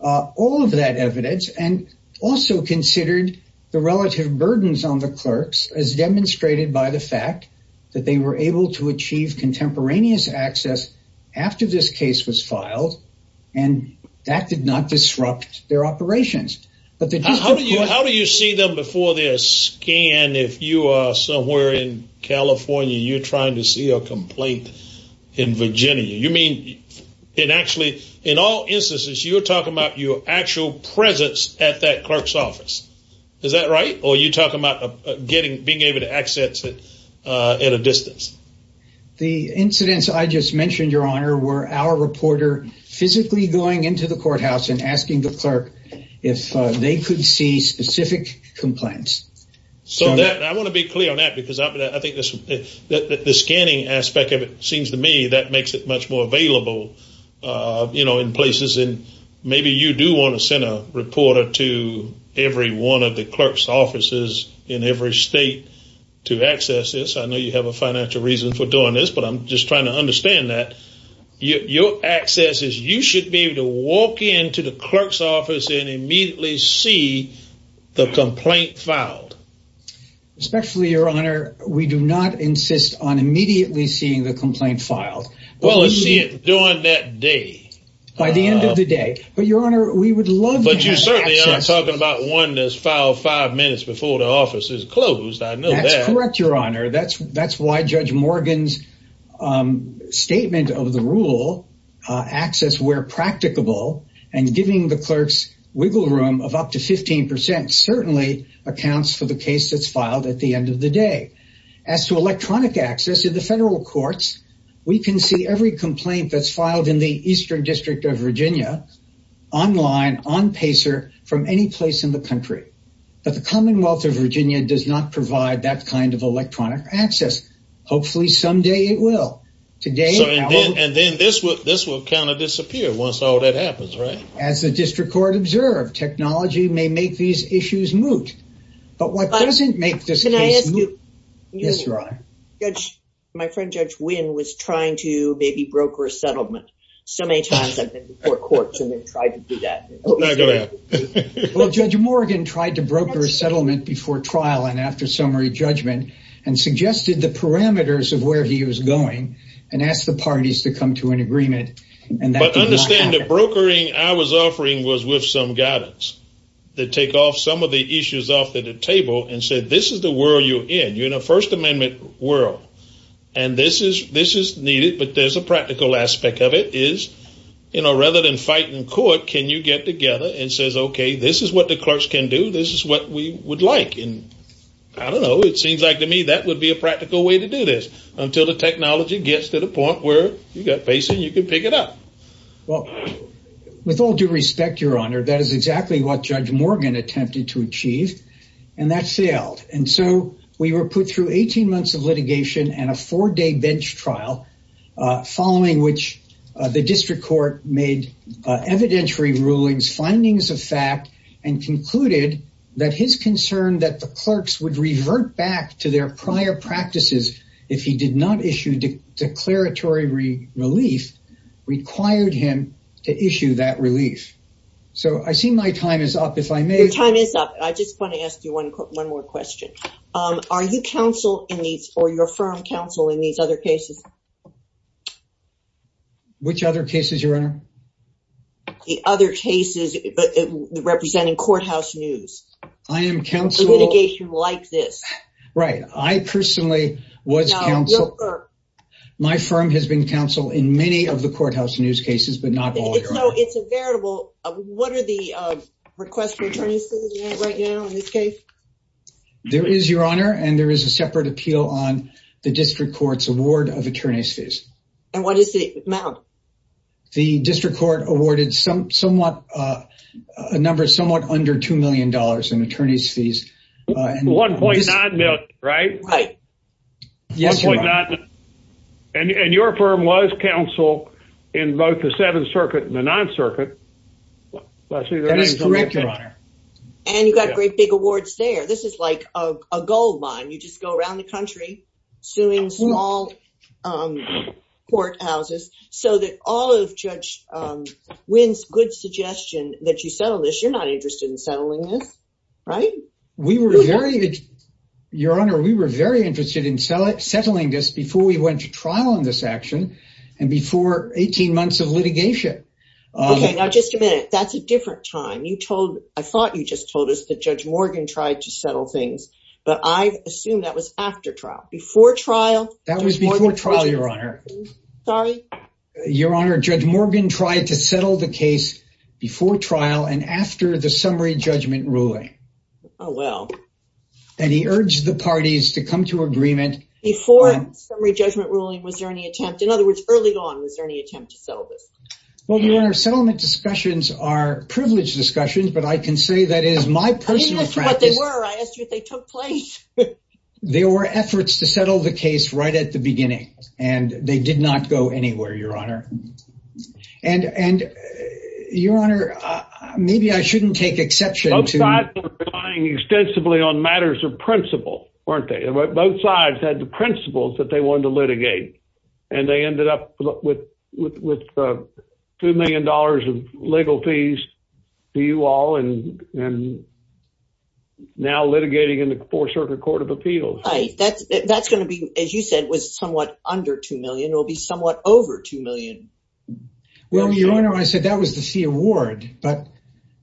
all of that evidence and also considered the relative burdens on the clerks as demonstrated by the fact that they were able to achieve contemporaneous access after this case was filed and that did not disrupt their operations. How do you see them before they're scanned if you are somewhere in California, you're trying to see a complaint in Virginia? You mean, it actually, in all instances, you're talking about your actual presence at that clerk's office. Is that right? Or are you talking about being able to access it at a distance? The incidents I just mentioned, Your Honor, were our reporter physically going into the courthouse and asking the clerk if they could see specific complaints. So I want to be clear on that because I think the scanning aspect of it seems to me that makes it available in places and maybe you do want to send a reporter to every one of the clerk's offices in every state to access this. I know you have a financial reason for doing this, but I'm just trying to understand that. Your access is you should be able to walk into the clerk's office and immediately see the complaint filed. Respectfully, Your Honor, we do not insist on immediately seeing the complaint filed. Well, let's see it during that day. By the end of the day. But, Your Honor, we would love... But you certainly are talking about one that's filed five minutes before the office is closed. I know that. That's correct, Your Honor. That's why Judge Morgan's statement of the rule, access where practicable, and giving the clerk's wiggle room of up to 15 percent certainly accounts for the case that's filed at the end of the day. As to electronic access in the federal courts, we can see every complaint that's filed in the Eastern District of Virginia online, on Pacer, from any place in the country. But the Commonwealth of Virginia does not provide that kind of electronic access. Hopefully, someday it will. And then this will kind of disappear once all that happens, right? As the District Court observed, may make these issues moot. But what doesn't make this case moot... Can I ask you... Yes, Your Honor. My friend Judge Wynn was trying to maybe broker a settlement. So many times I've been before courts and they've tried to do that. Well, Judge Morgan tried to broker a settlement before trial and after summary judgment and suggested the parameters of where he was going and asked the parties to take off some of the issues off the table and said, this is the world you're in. You're in a First Amendment world and this is needed. But there's a practical aspect of it is, you know, rather than fight in court, can you get together and say, okay, this is what the clerks can do. This is what we would like. And I don't know, it seems like to me that would be a practical way to do this until the technology gets to the point where you've got Pacer and you can pick it up. Well, with all due respect, Your Honor, that is exactly what Judge Morgan attempted to achieve and that failed. And so we were put through 18 months of litigation and a four-day bench trial, following which the district court made evidentiary rulings, findings of fact, and concluded that his concern that the clerks would revert back to their prior practices if he did not issue declaratory relief required him to issue that relief. So I see my time is up, if I may. Your time is up. I just want to ask you one more question. Are you counsel in these or your firm counsel in these other cases? Which other cases, Your Honor? The other cases representing courthouse news. I am counsel. A litigation like this. Right. I personally was counsel. No, your firm. My firm has been counsel in many of the courthouse news cases, but not all, Your Honor. It's a variable. What are the requests for attorney's fees right now in this case? There is, Your Honor, and there is a separate appeal on the district court's award of attorney's fees. And what is the amount? The district court awarded some somewhat, a number somewhat under $2 million in attorney's fees. 1.9 million, right? Right. Yes, Your Honor. And your firm was counsel in both the Seventh Circuit and the Ninth Circuit. That is correct, Your Honor. And you got great big awards there. This is like a goldmine. You just go around the country suing small courthouses so that all of Judge Wynn's good suggestion that you settle this. You're not interested in settling this, right? We were very, Your Honor, we were very interested in settling this before we went to trial on this action and before 18 months of litigation. Okay. Now, just a minute. That's a different time. You told, I thought you just told us that Judge Morgan tried to settle things, but I assume that was after trial, before trial. That was before trial, Your Honor. Sorry? Your Honor, Judge Morgan tried to settle the case before trial and after the summary judgment ruling. Oh, well. And he urged the parties to come to agreement. Before summary judgment ruling, was there any attempt, in other words, early on, was there any attempt to settle this? Well, Your Honor, settlement discussions are privileged discussions, but I can say that is my personal practice. I didn't ask you what they were, I asked you if they took place. There were efforts to settle the case right at the beginning, and they did not go anywhere, Your Honor. And Your Honor, maybe I shouldn't take exception to- Both sides were relying extensively on matters of principle, weren't they? Both sides had the principles that they wanted to litigate, and they ended up with $2 million of legal fees to you all, and now litigating in the Fourth Circuit Court of Appeals. That's going to be, as you said, was somewhat under $2 million. It will be somewhat over $2 million. Well, Your Honor, I said that was the fee award, but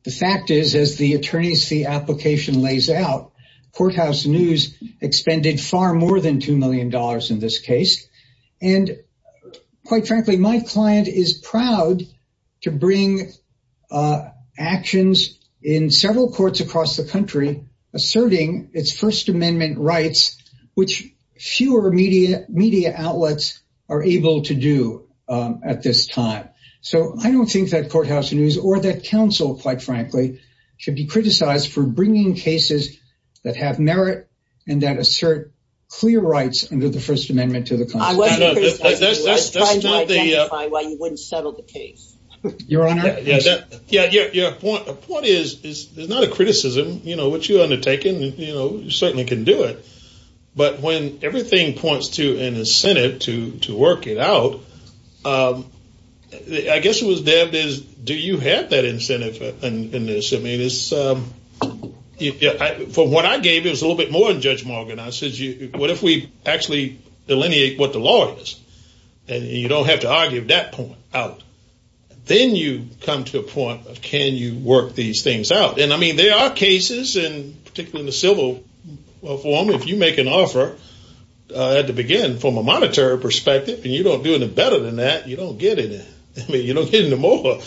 the fact is, as the attorney's fee application lays out, Courthouse News expended far more than $2 million in this case, and quite frankly, my client is proud to bring actions in several courts across the country asserting its First Amendment rights, which fewer media outlets are able to do at this time. So, I don't think that Courthouse News, or that counsel, quite frankly, should be criticized for bringing cases that have merit and that assert clear rights under the First Amendment to the Constitution. I wasn't criticizing you. I was trying to identify why you wouldn't settle the case. Your Honor- Yeah. Your point is, it's not a criticism. What you undertaken, you certainly can do it, but when everything points to an incentive to work it out, I guess it was, Deb, is, do you have that incentive in this? I mean, for what I gave, it was a little bit more than Judge Morgan. I said, what if we actually delineate what the law is, and you don't have to argue that point out? Then you come to a point of, can you work these things out? And I mean, there are cases, and particularly in the civil form, if you make an offer, to begin from a monetary perspective, and you don't do any better than that, you don't get any. I mean, you don't get any more.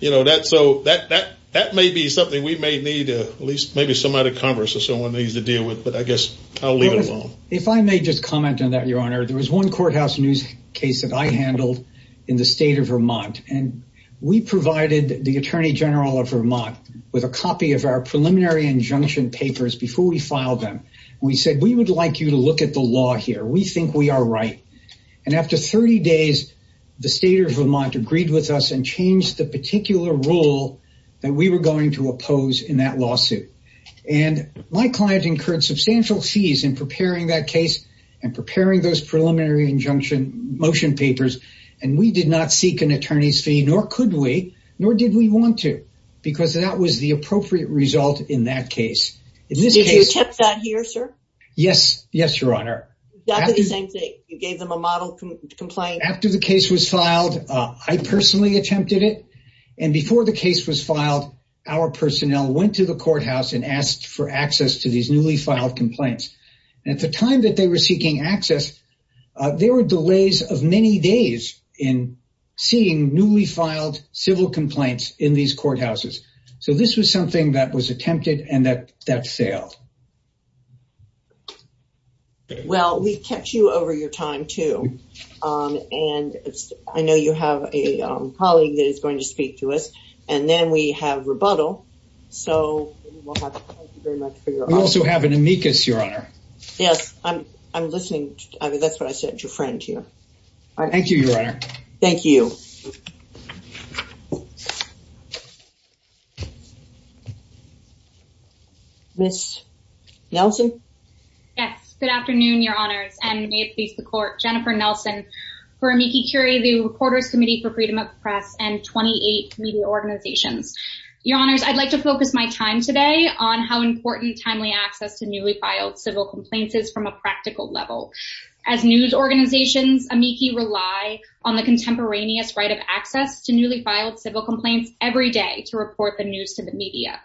You know, that may be something we may need, at least maybe somebody at Congress or someone needs to deal with, but I guess I'll leave it alone. If I may just comment on that, Your Honor, there was one courthouse news case that I handled in the state of Vermont, and we provided the attorney general of Vermont with a copy of our preliminary injunction papers before we filed them. We said, we would like you to look at the law here. We think we are right. And after 30 days, the state of Vermont agreed with us and changed the particular rule that we were going to oppose in that lawsuit. And my client incurred substantial fees in preparing that case and preparing those preliminary injunction motion papers. And we did not seek an attorney's fee, nor could we, nor did we want to, because that was the appropriate result in that case. Did you attempt that here, sir? Yes. Yes, Your Honor. Exactly the same thing. You gave them a model complaint. After the case was filed, I personally attempted it. And before the case was filed, our personnel went to the courthouse and asked for access to these newly filed complaints. And at the time that they were seeking access, there were delays of many days in seeing newly filed civil complaints in these courthouses. So this was something that was attempted and that failed. Well, we kept you over your time too. And I know you have a colleague that is going to speak to us, and then we have rebuttal. So we will have to thank you very much for your time. We also have an amicus, Your Honor. Yes, I'm listening. I mean, that's what I said, your friend here. Thank you, Your Honor. Thank you. Ms. Nelson? Yes. Good afternoon, Your Honors, and may it please the Court. Jennifer Nelson for Amici Curie, the Reporters Committee for Freedom of Press and 28 media organizations. Your Honors, I'd like to focus my time today on how important timely access to newly filed civil complaints is from a practical level. As news organizations, Amici rely on the contemporaneous right of access to newly filed civil complaints every day to report the news to the media.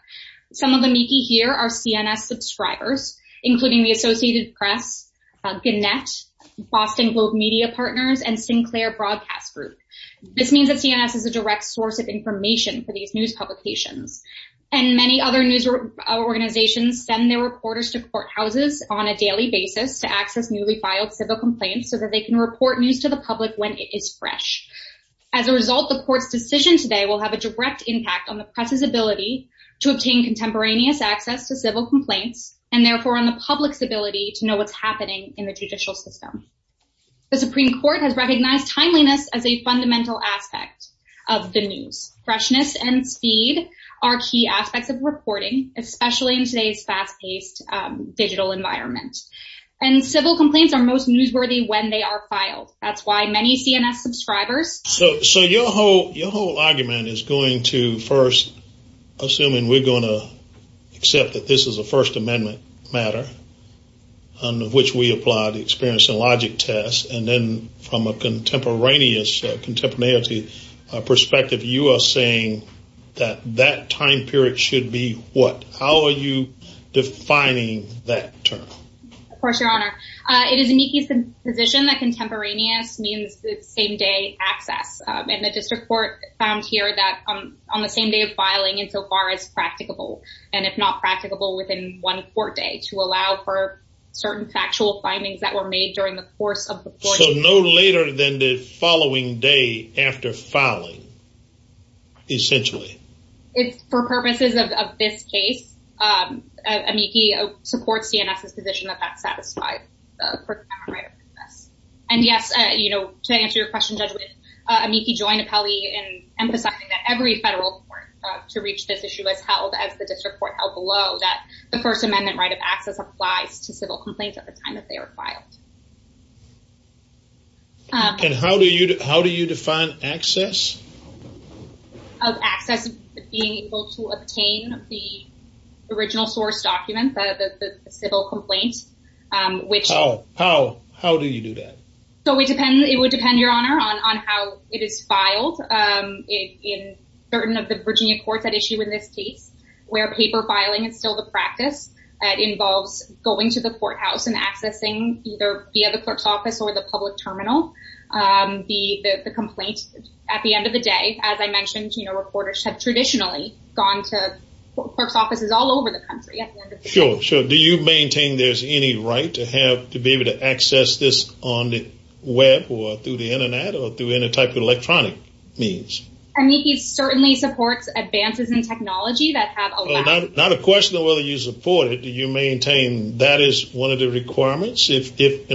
Some of the Amici here are CNS subscribers, including the Associated Press, Gannett, Boston Globe Media Partners, and Sinclair Broadcast Group. This means that CNS is a And many other news organizations send their reporters to courthouses on a daily basis to access newly filed civil complaints so that they can report news to the public when it is fresh. As a result, the Court's decision today will have a direct impact on the press's ability to obtain contemporaneous access to civil complaints, and therefore on the public's ability to know what's happening in the judicial system. The Supreme Court has recognized timeliness as a fundamental aspect of the news. Freshness and speed are key aspects of reporting, especially in today's fast-paced digital environment. And civil complaints are most newsworthy when they are filed. That's why many CNS subscribers... So your whole argument is going to first, assuming we're going to accept that this is a First Amendment matter, under which we apply the experience and logic test, and then from a contemporaneous, contemporaneity perspective, you are saying that that time period should be what? How are you defining that term? Of course, Your Honor. It is amici's position that contemporaneous means the same-day access. And the District Court found here that on the same day of filing and so far as practicable, and if not practicable within one court day to allow for certain factual findings that were made during the course of the... So no later than the following day after filing, essentially. For purposes of this case, amici supports CNS's position that that's satisfied. And yes, you know, to answer your question, Judge, amici joined Apelli in emphasizing that every federal court to reach this issue has held, as the District Court held below, that the First Amendment right of access applies to civil complaints at the time that they are filed. And how do you define access? Of access being able to obtain the original source document, the civil complaint, which... How? How do you do that? So it would depend, Your Honor, on how it is filed in certain of the Virginia courts that issue in this case, where paper filing is still the practice that involves going to the courthouse and accessing either via the clerk's office or the public terminal. The complaint, at the end of the day, as I mentioned, you know, reporters have traditionally gone to clerk's offices all over the country. Sure, sure. Do you maintain there's any right to have, to be able to access this on the web or through the internet or through any electronic means? Amici certainly supports advances in technology that have allowed... Not a question of whether you support it. Do you maintain that is one of the requirements? In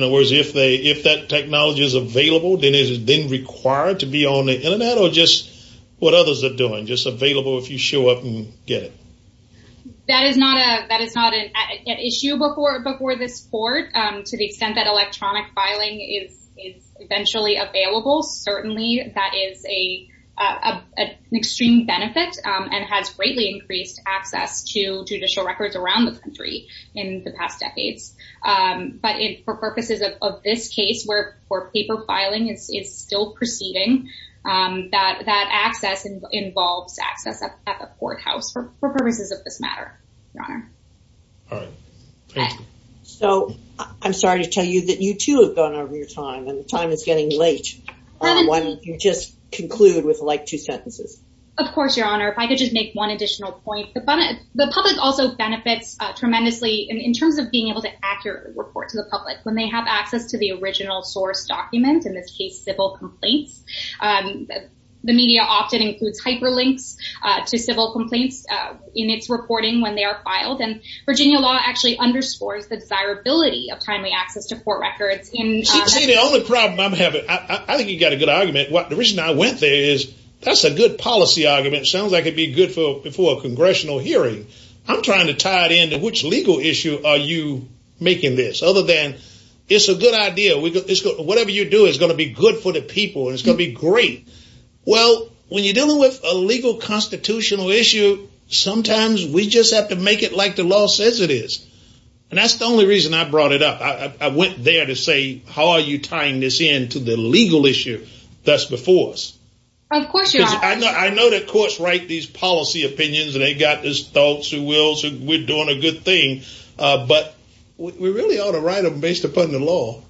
other words, if that technology is available, then is it then required to be on the internet or just what others are doing, just available if you show up and get it? That is not an issue before this court. To the extent that electronic filing is eventually available, certainly that is an extreme benefit and has greatly increased access to judicial records around the country in the past decades. But for purposes of this case, where paper filing is still proceeding, that access involves access at the courthouse for purposes of this matter, Your Honor. All right. Thank you. So I'm sorry to tell you that you too have gone over your time and the time is getting late when you just conclude with like two sentences. Of course, Your Honor. If I could just make one additional point. The public also benefits tremendously in terms of being able to accurately report to the public when they have access to the original source document, in this case, civil complaints. The media often includes hyperlinks to civil complaints in its reporting when they are filed. And Virginia law actually underscores the desirability of timely access to court records. See, the only problem I'm having, I think you got a good argument. The reason I went there is that's a good policy argument. Sounds like it'd be good for a congressional hearing. I'm trying to tie it into which legal issue are you making this? Other than it's a good idea. Whatever you do is going to be good for the people and it's going to be great. Well, when you're dealing with a legal constitutional issue, sometimes we just have to make it like the law says it is. And that's the only reason I brought it up. I went there to say, how are you tying this into the legal issue that's before us? Of course, Your Honor. Because I know the courts write these policy opinions and they got this thoughts and wills and we're doing a good thing. But we really ought to write them based upon the law.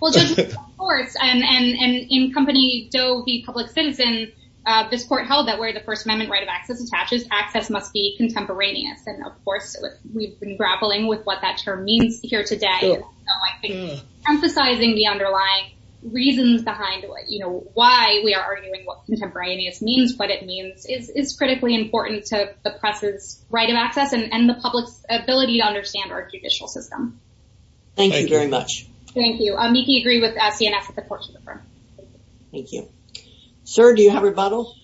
Well, Judge, of course. And in company Doe v. Public Citizen, this court held that we're first amendment right of access attaches. Access must be contemporaneous. And of course, we've been grappling with what that term means here today. Emphasizing the underlying reasons behind why we are arguing what contemporaneous means, what it means is critically important to the press's right of access and the public's ability to understand our judicial system. Thank you very much. Thank you. Meekie, I agree with CNS at the court. Thank you, sir. Do you have rebuttal?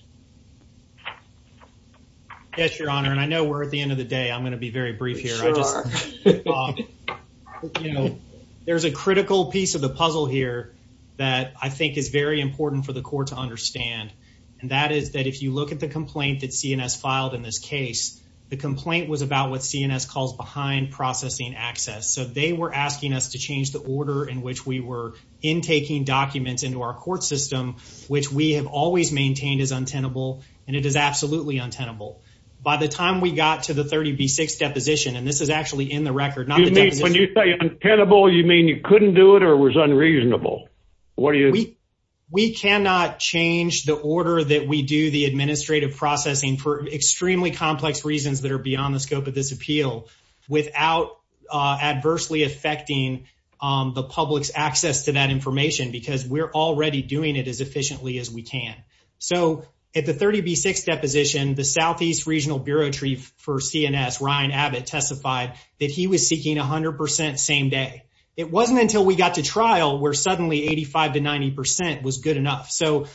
Yes, Your Honor. And I know we're at the end of the day. I'm going to be very brief here. There's a critical piece of the puzzle here that I think is very important for the court to understand. And that is that if you look at the complaint that CNS filed in this case, the complaint was about what CNS calls behind processing access. So they were asking us to court system, which we have always maintained is untenable, and it is absolutely untenable. By the time we got to the 30 v. 6 deposition, and this is actually in the record. You mean when you say untenable, you mean you couldn't do it or was unreasonable? We cannot change the order that we do the administrative processing for extremely complex reasons that are beyond the scope of this appeal without adversely affecting the public's access to that information, because we're already doing it as efficiently as we can. So at the 30 v. 6 deposition, the Southeast Regional Bureau Chief for CNS, Ryan Abbott, testified that he was seeking 100% same day. It wasn't until we got to trial where suddenly 85% to 90% was good enough. So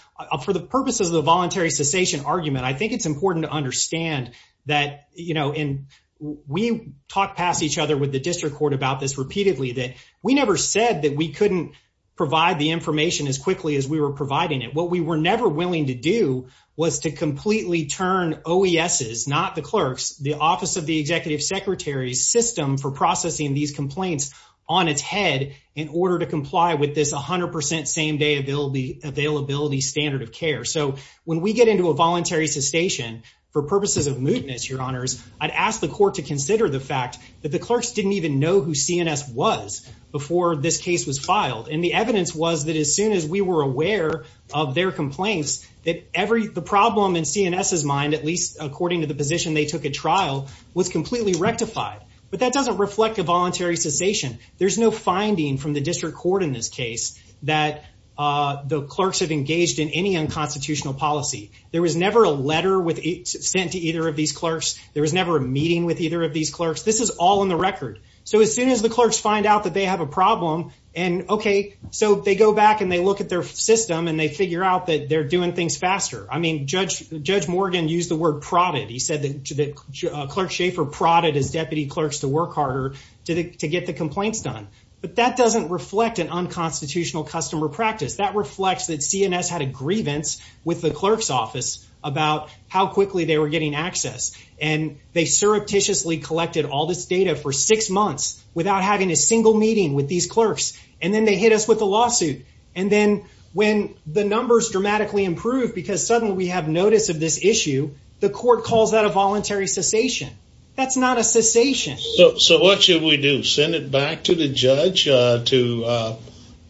for the purposes of the voluntary cessation argument, I think it's important to understand that, you know, and we talked past each other with the district court about this repeatedly, that we never said that we couldn't provide the information as quickly as we were providing it. What we were never willing to do was to completely turn OES's, not the clerk's, the office of the executive secretary's system for processing these complaints on its head in order to comply with this 100% same day availability standard of care. So when we get into a voluntary cessation for purposes of mootness, your honors, I'd ask the court to consider the fact that the CNS was before this case was filed. And the evidence was that as soon as we were aware of their complaints, that the problem in CNS's mind, at least according to the position they took at trial, was completely rectified. But that doesn't reflect a voluntary cessation. There's no finding from the district court in this case that the clerks have engaged in any unconstitutional policy. There was never a letter sent to either of these clerks. There was never a meeting with either of So as soon as the clerks find out that they have a problem, and okay, so they go back and they look at their system and they figure out that they're doing things faster. I mean, Judge Morgan used the word prodded. He said that Clerk Schaefer prodded his deputy clerks to work harder to get the complaints done. But that doesn't reflect an unconstitutional customer practice. That reflects that CNS had a grievance with the clerk's office about how quickly they were getting access. And they surreptitiously collected all this data for six months without having a single meeting with these clerks. And then they hit us with a lawsuit. And then when the numbers dramatically improved because suddenly we have notice of this issue, the court calls that a voluntary cessation. That's not a cessation. So what should we do? Send it back to the judge to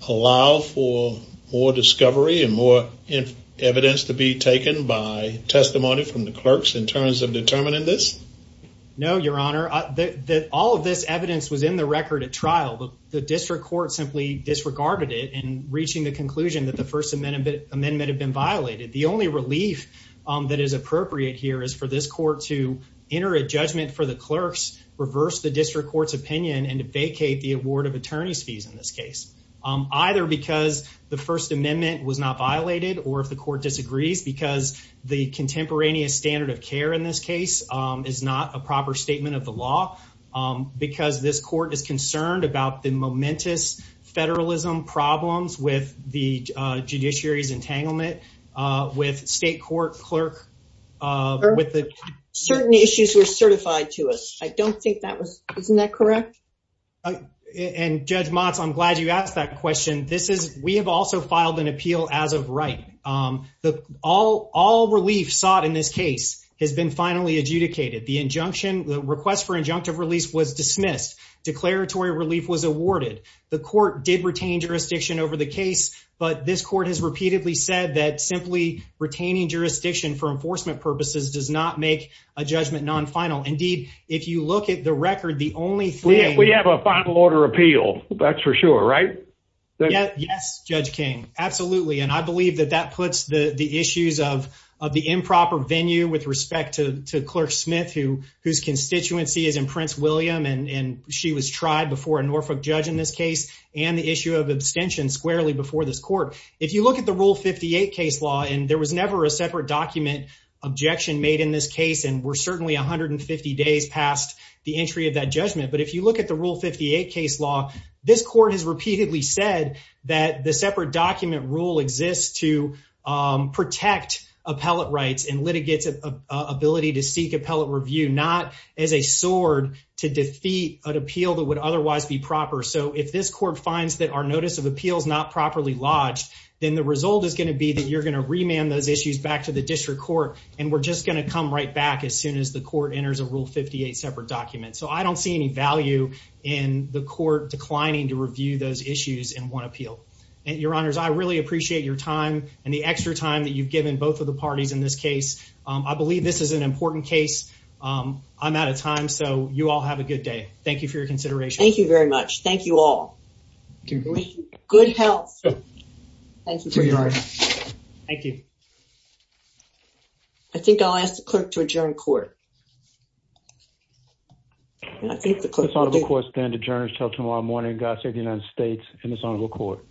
allow for more this? No, Your Honor, that all of this evidence was in the record at trial. The district court simply disregarded it and reaching the conclusion that the First Amendment Amendment had been violated. The only relief that is appropriate here is for this court to enter a judgment for the clerks, reverse the district court's opinion and vacate the award of attorneys fees in this case, either because the First Amendment was not violated or if the court disagrees because the contemporaneous standard of care in this case is not a proper statement of the law, because this court is concerned about the momentous federalism problems with the judiciary's entanglement with state court clerk. Certain issues were certified to us. I don't think that was, isn't that correct? And Judge Motz, I'm glad you asked that question. We have also filed an in this case has been finally adjudicated. The injunction, the request for injunctive release was dismissed. Declaratory relief was awarded. The court did retain jurisdiction over the case, but this court has repeatedly said that simply retaining jurisdiction for enforcement purposes does not make a judgment non final. Indeed, if you look at the record, the only thing we have a final order appeal, that's for sure, right? Yes, Judge King. Absolutely. And I believe that that puts the issues of the improper venue with respect to Clerk Smith, whose constituency is in Prince William, and she was tried before a Norfolk judge in this case, and the issue of abstention squarely before this court. If you look at the Rule 58 case law, and there was never a separate document objection made in this case, and we're certainly 150 days past the entry of that judgment. But if you look at the Rule 58 case law, this court has repeatedly said that the separate document rule exists to protect appellate rights and litigates ability to seek appellate review, not as a sword to defeat an appeal that would otherwise be proper. So if this court finds that our notice of appeals not properly lodged, then the result is going to be that you're going to remand those issues back to the district court, and we're just going to come right back as soon as the court enters a Rule 58 separate document. So I don't see any value in the court declining to review those issues in one appeal. Your Honors, I really appreciate your time and the extra time that you've given both of the parties in this case. I believe this is an important case. I'm out of time, so you all have a good day. Thank you for your consideration. Thank you very much. Thank you all. Good health. Thank you. Thank you. I think I'll ask the clerk to adjourn court. I think the court is adjourned until tomorrow morning. God save the United States and his Honorable Court.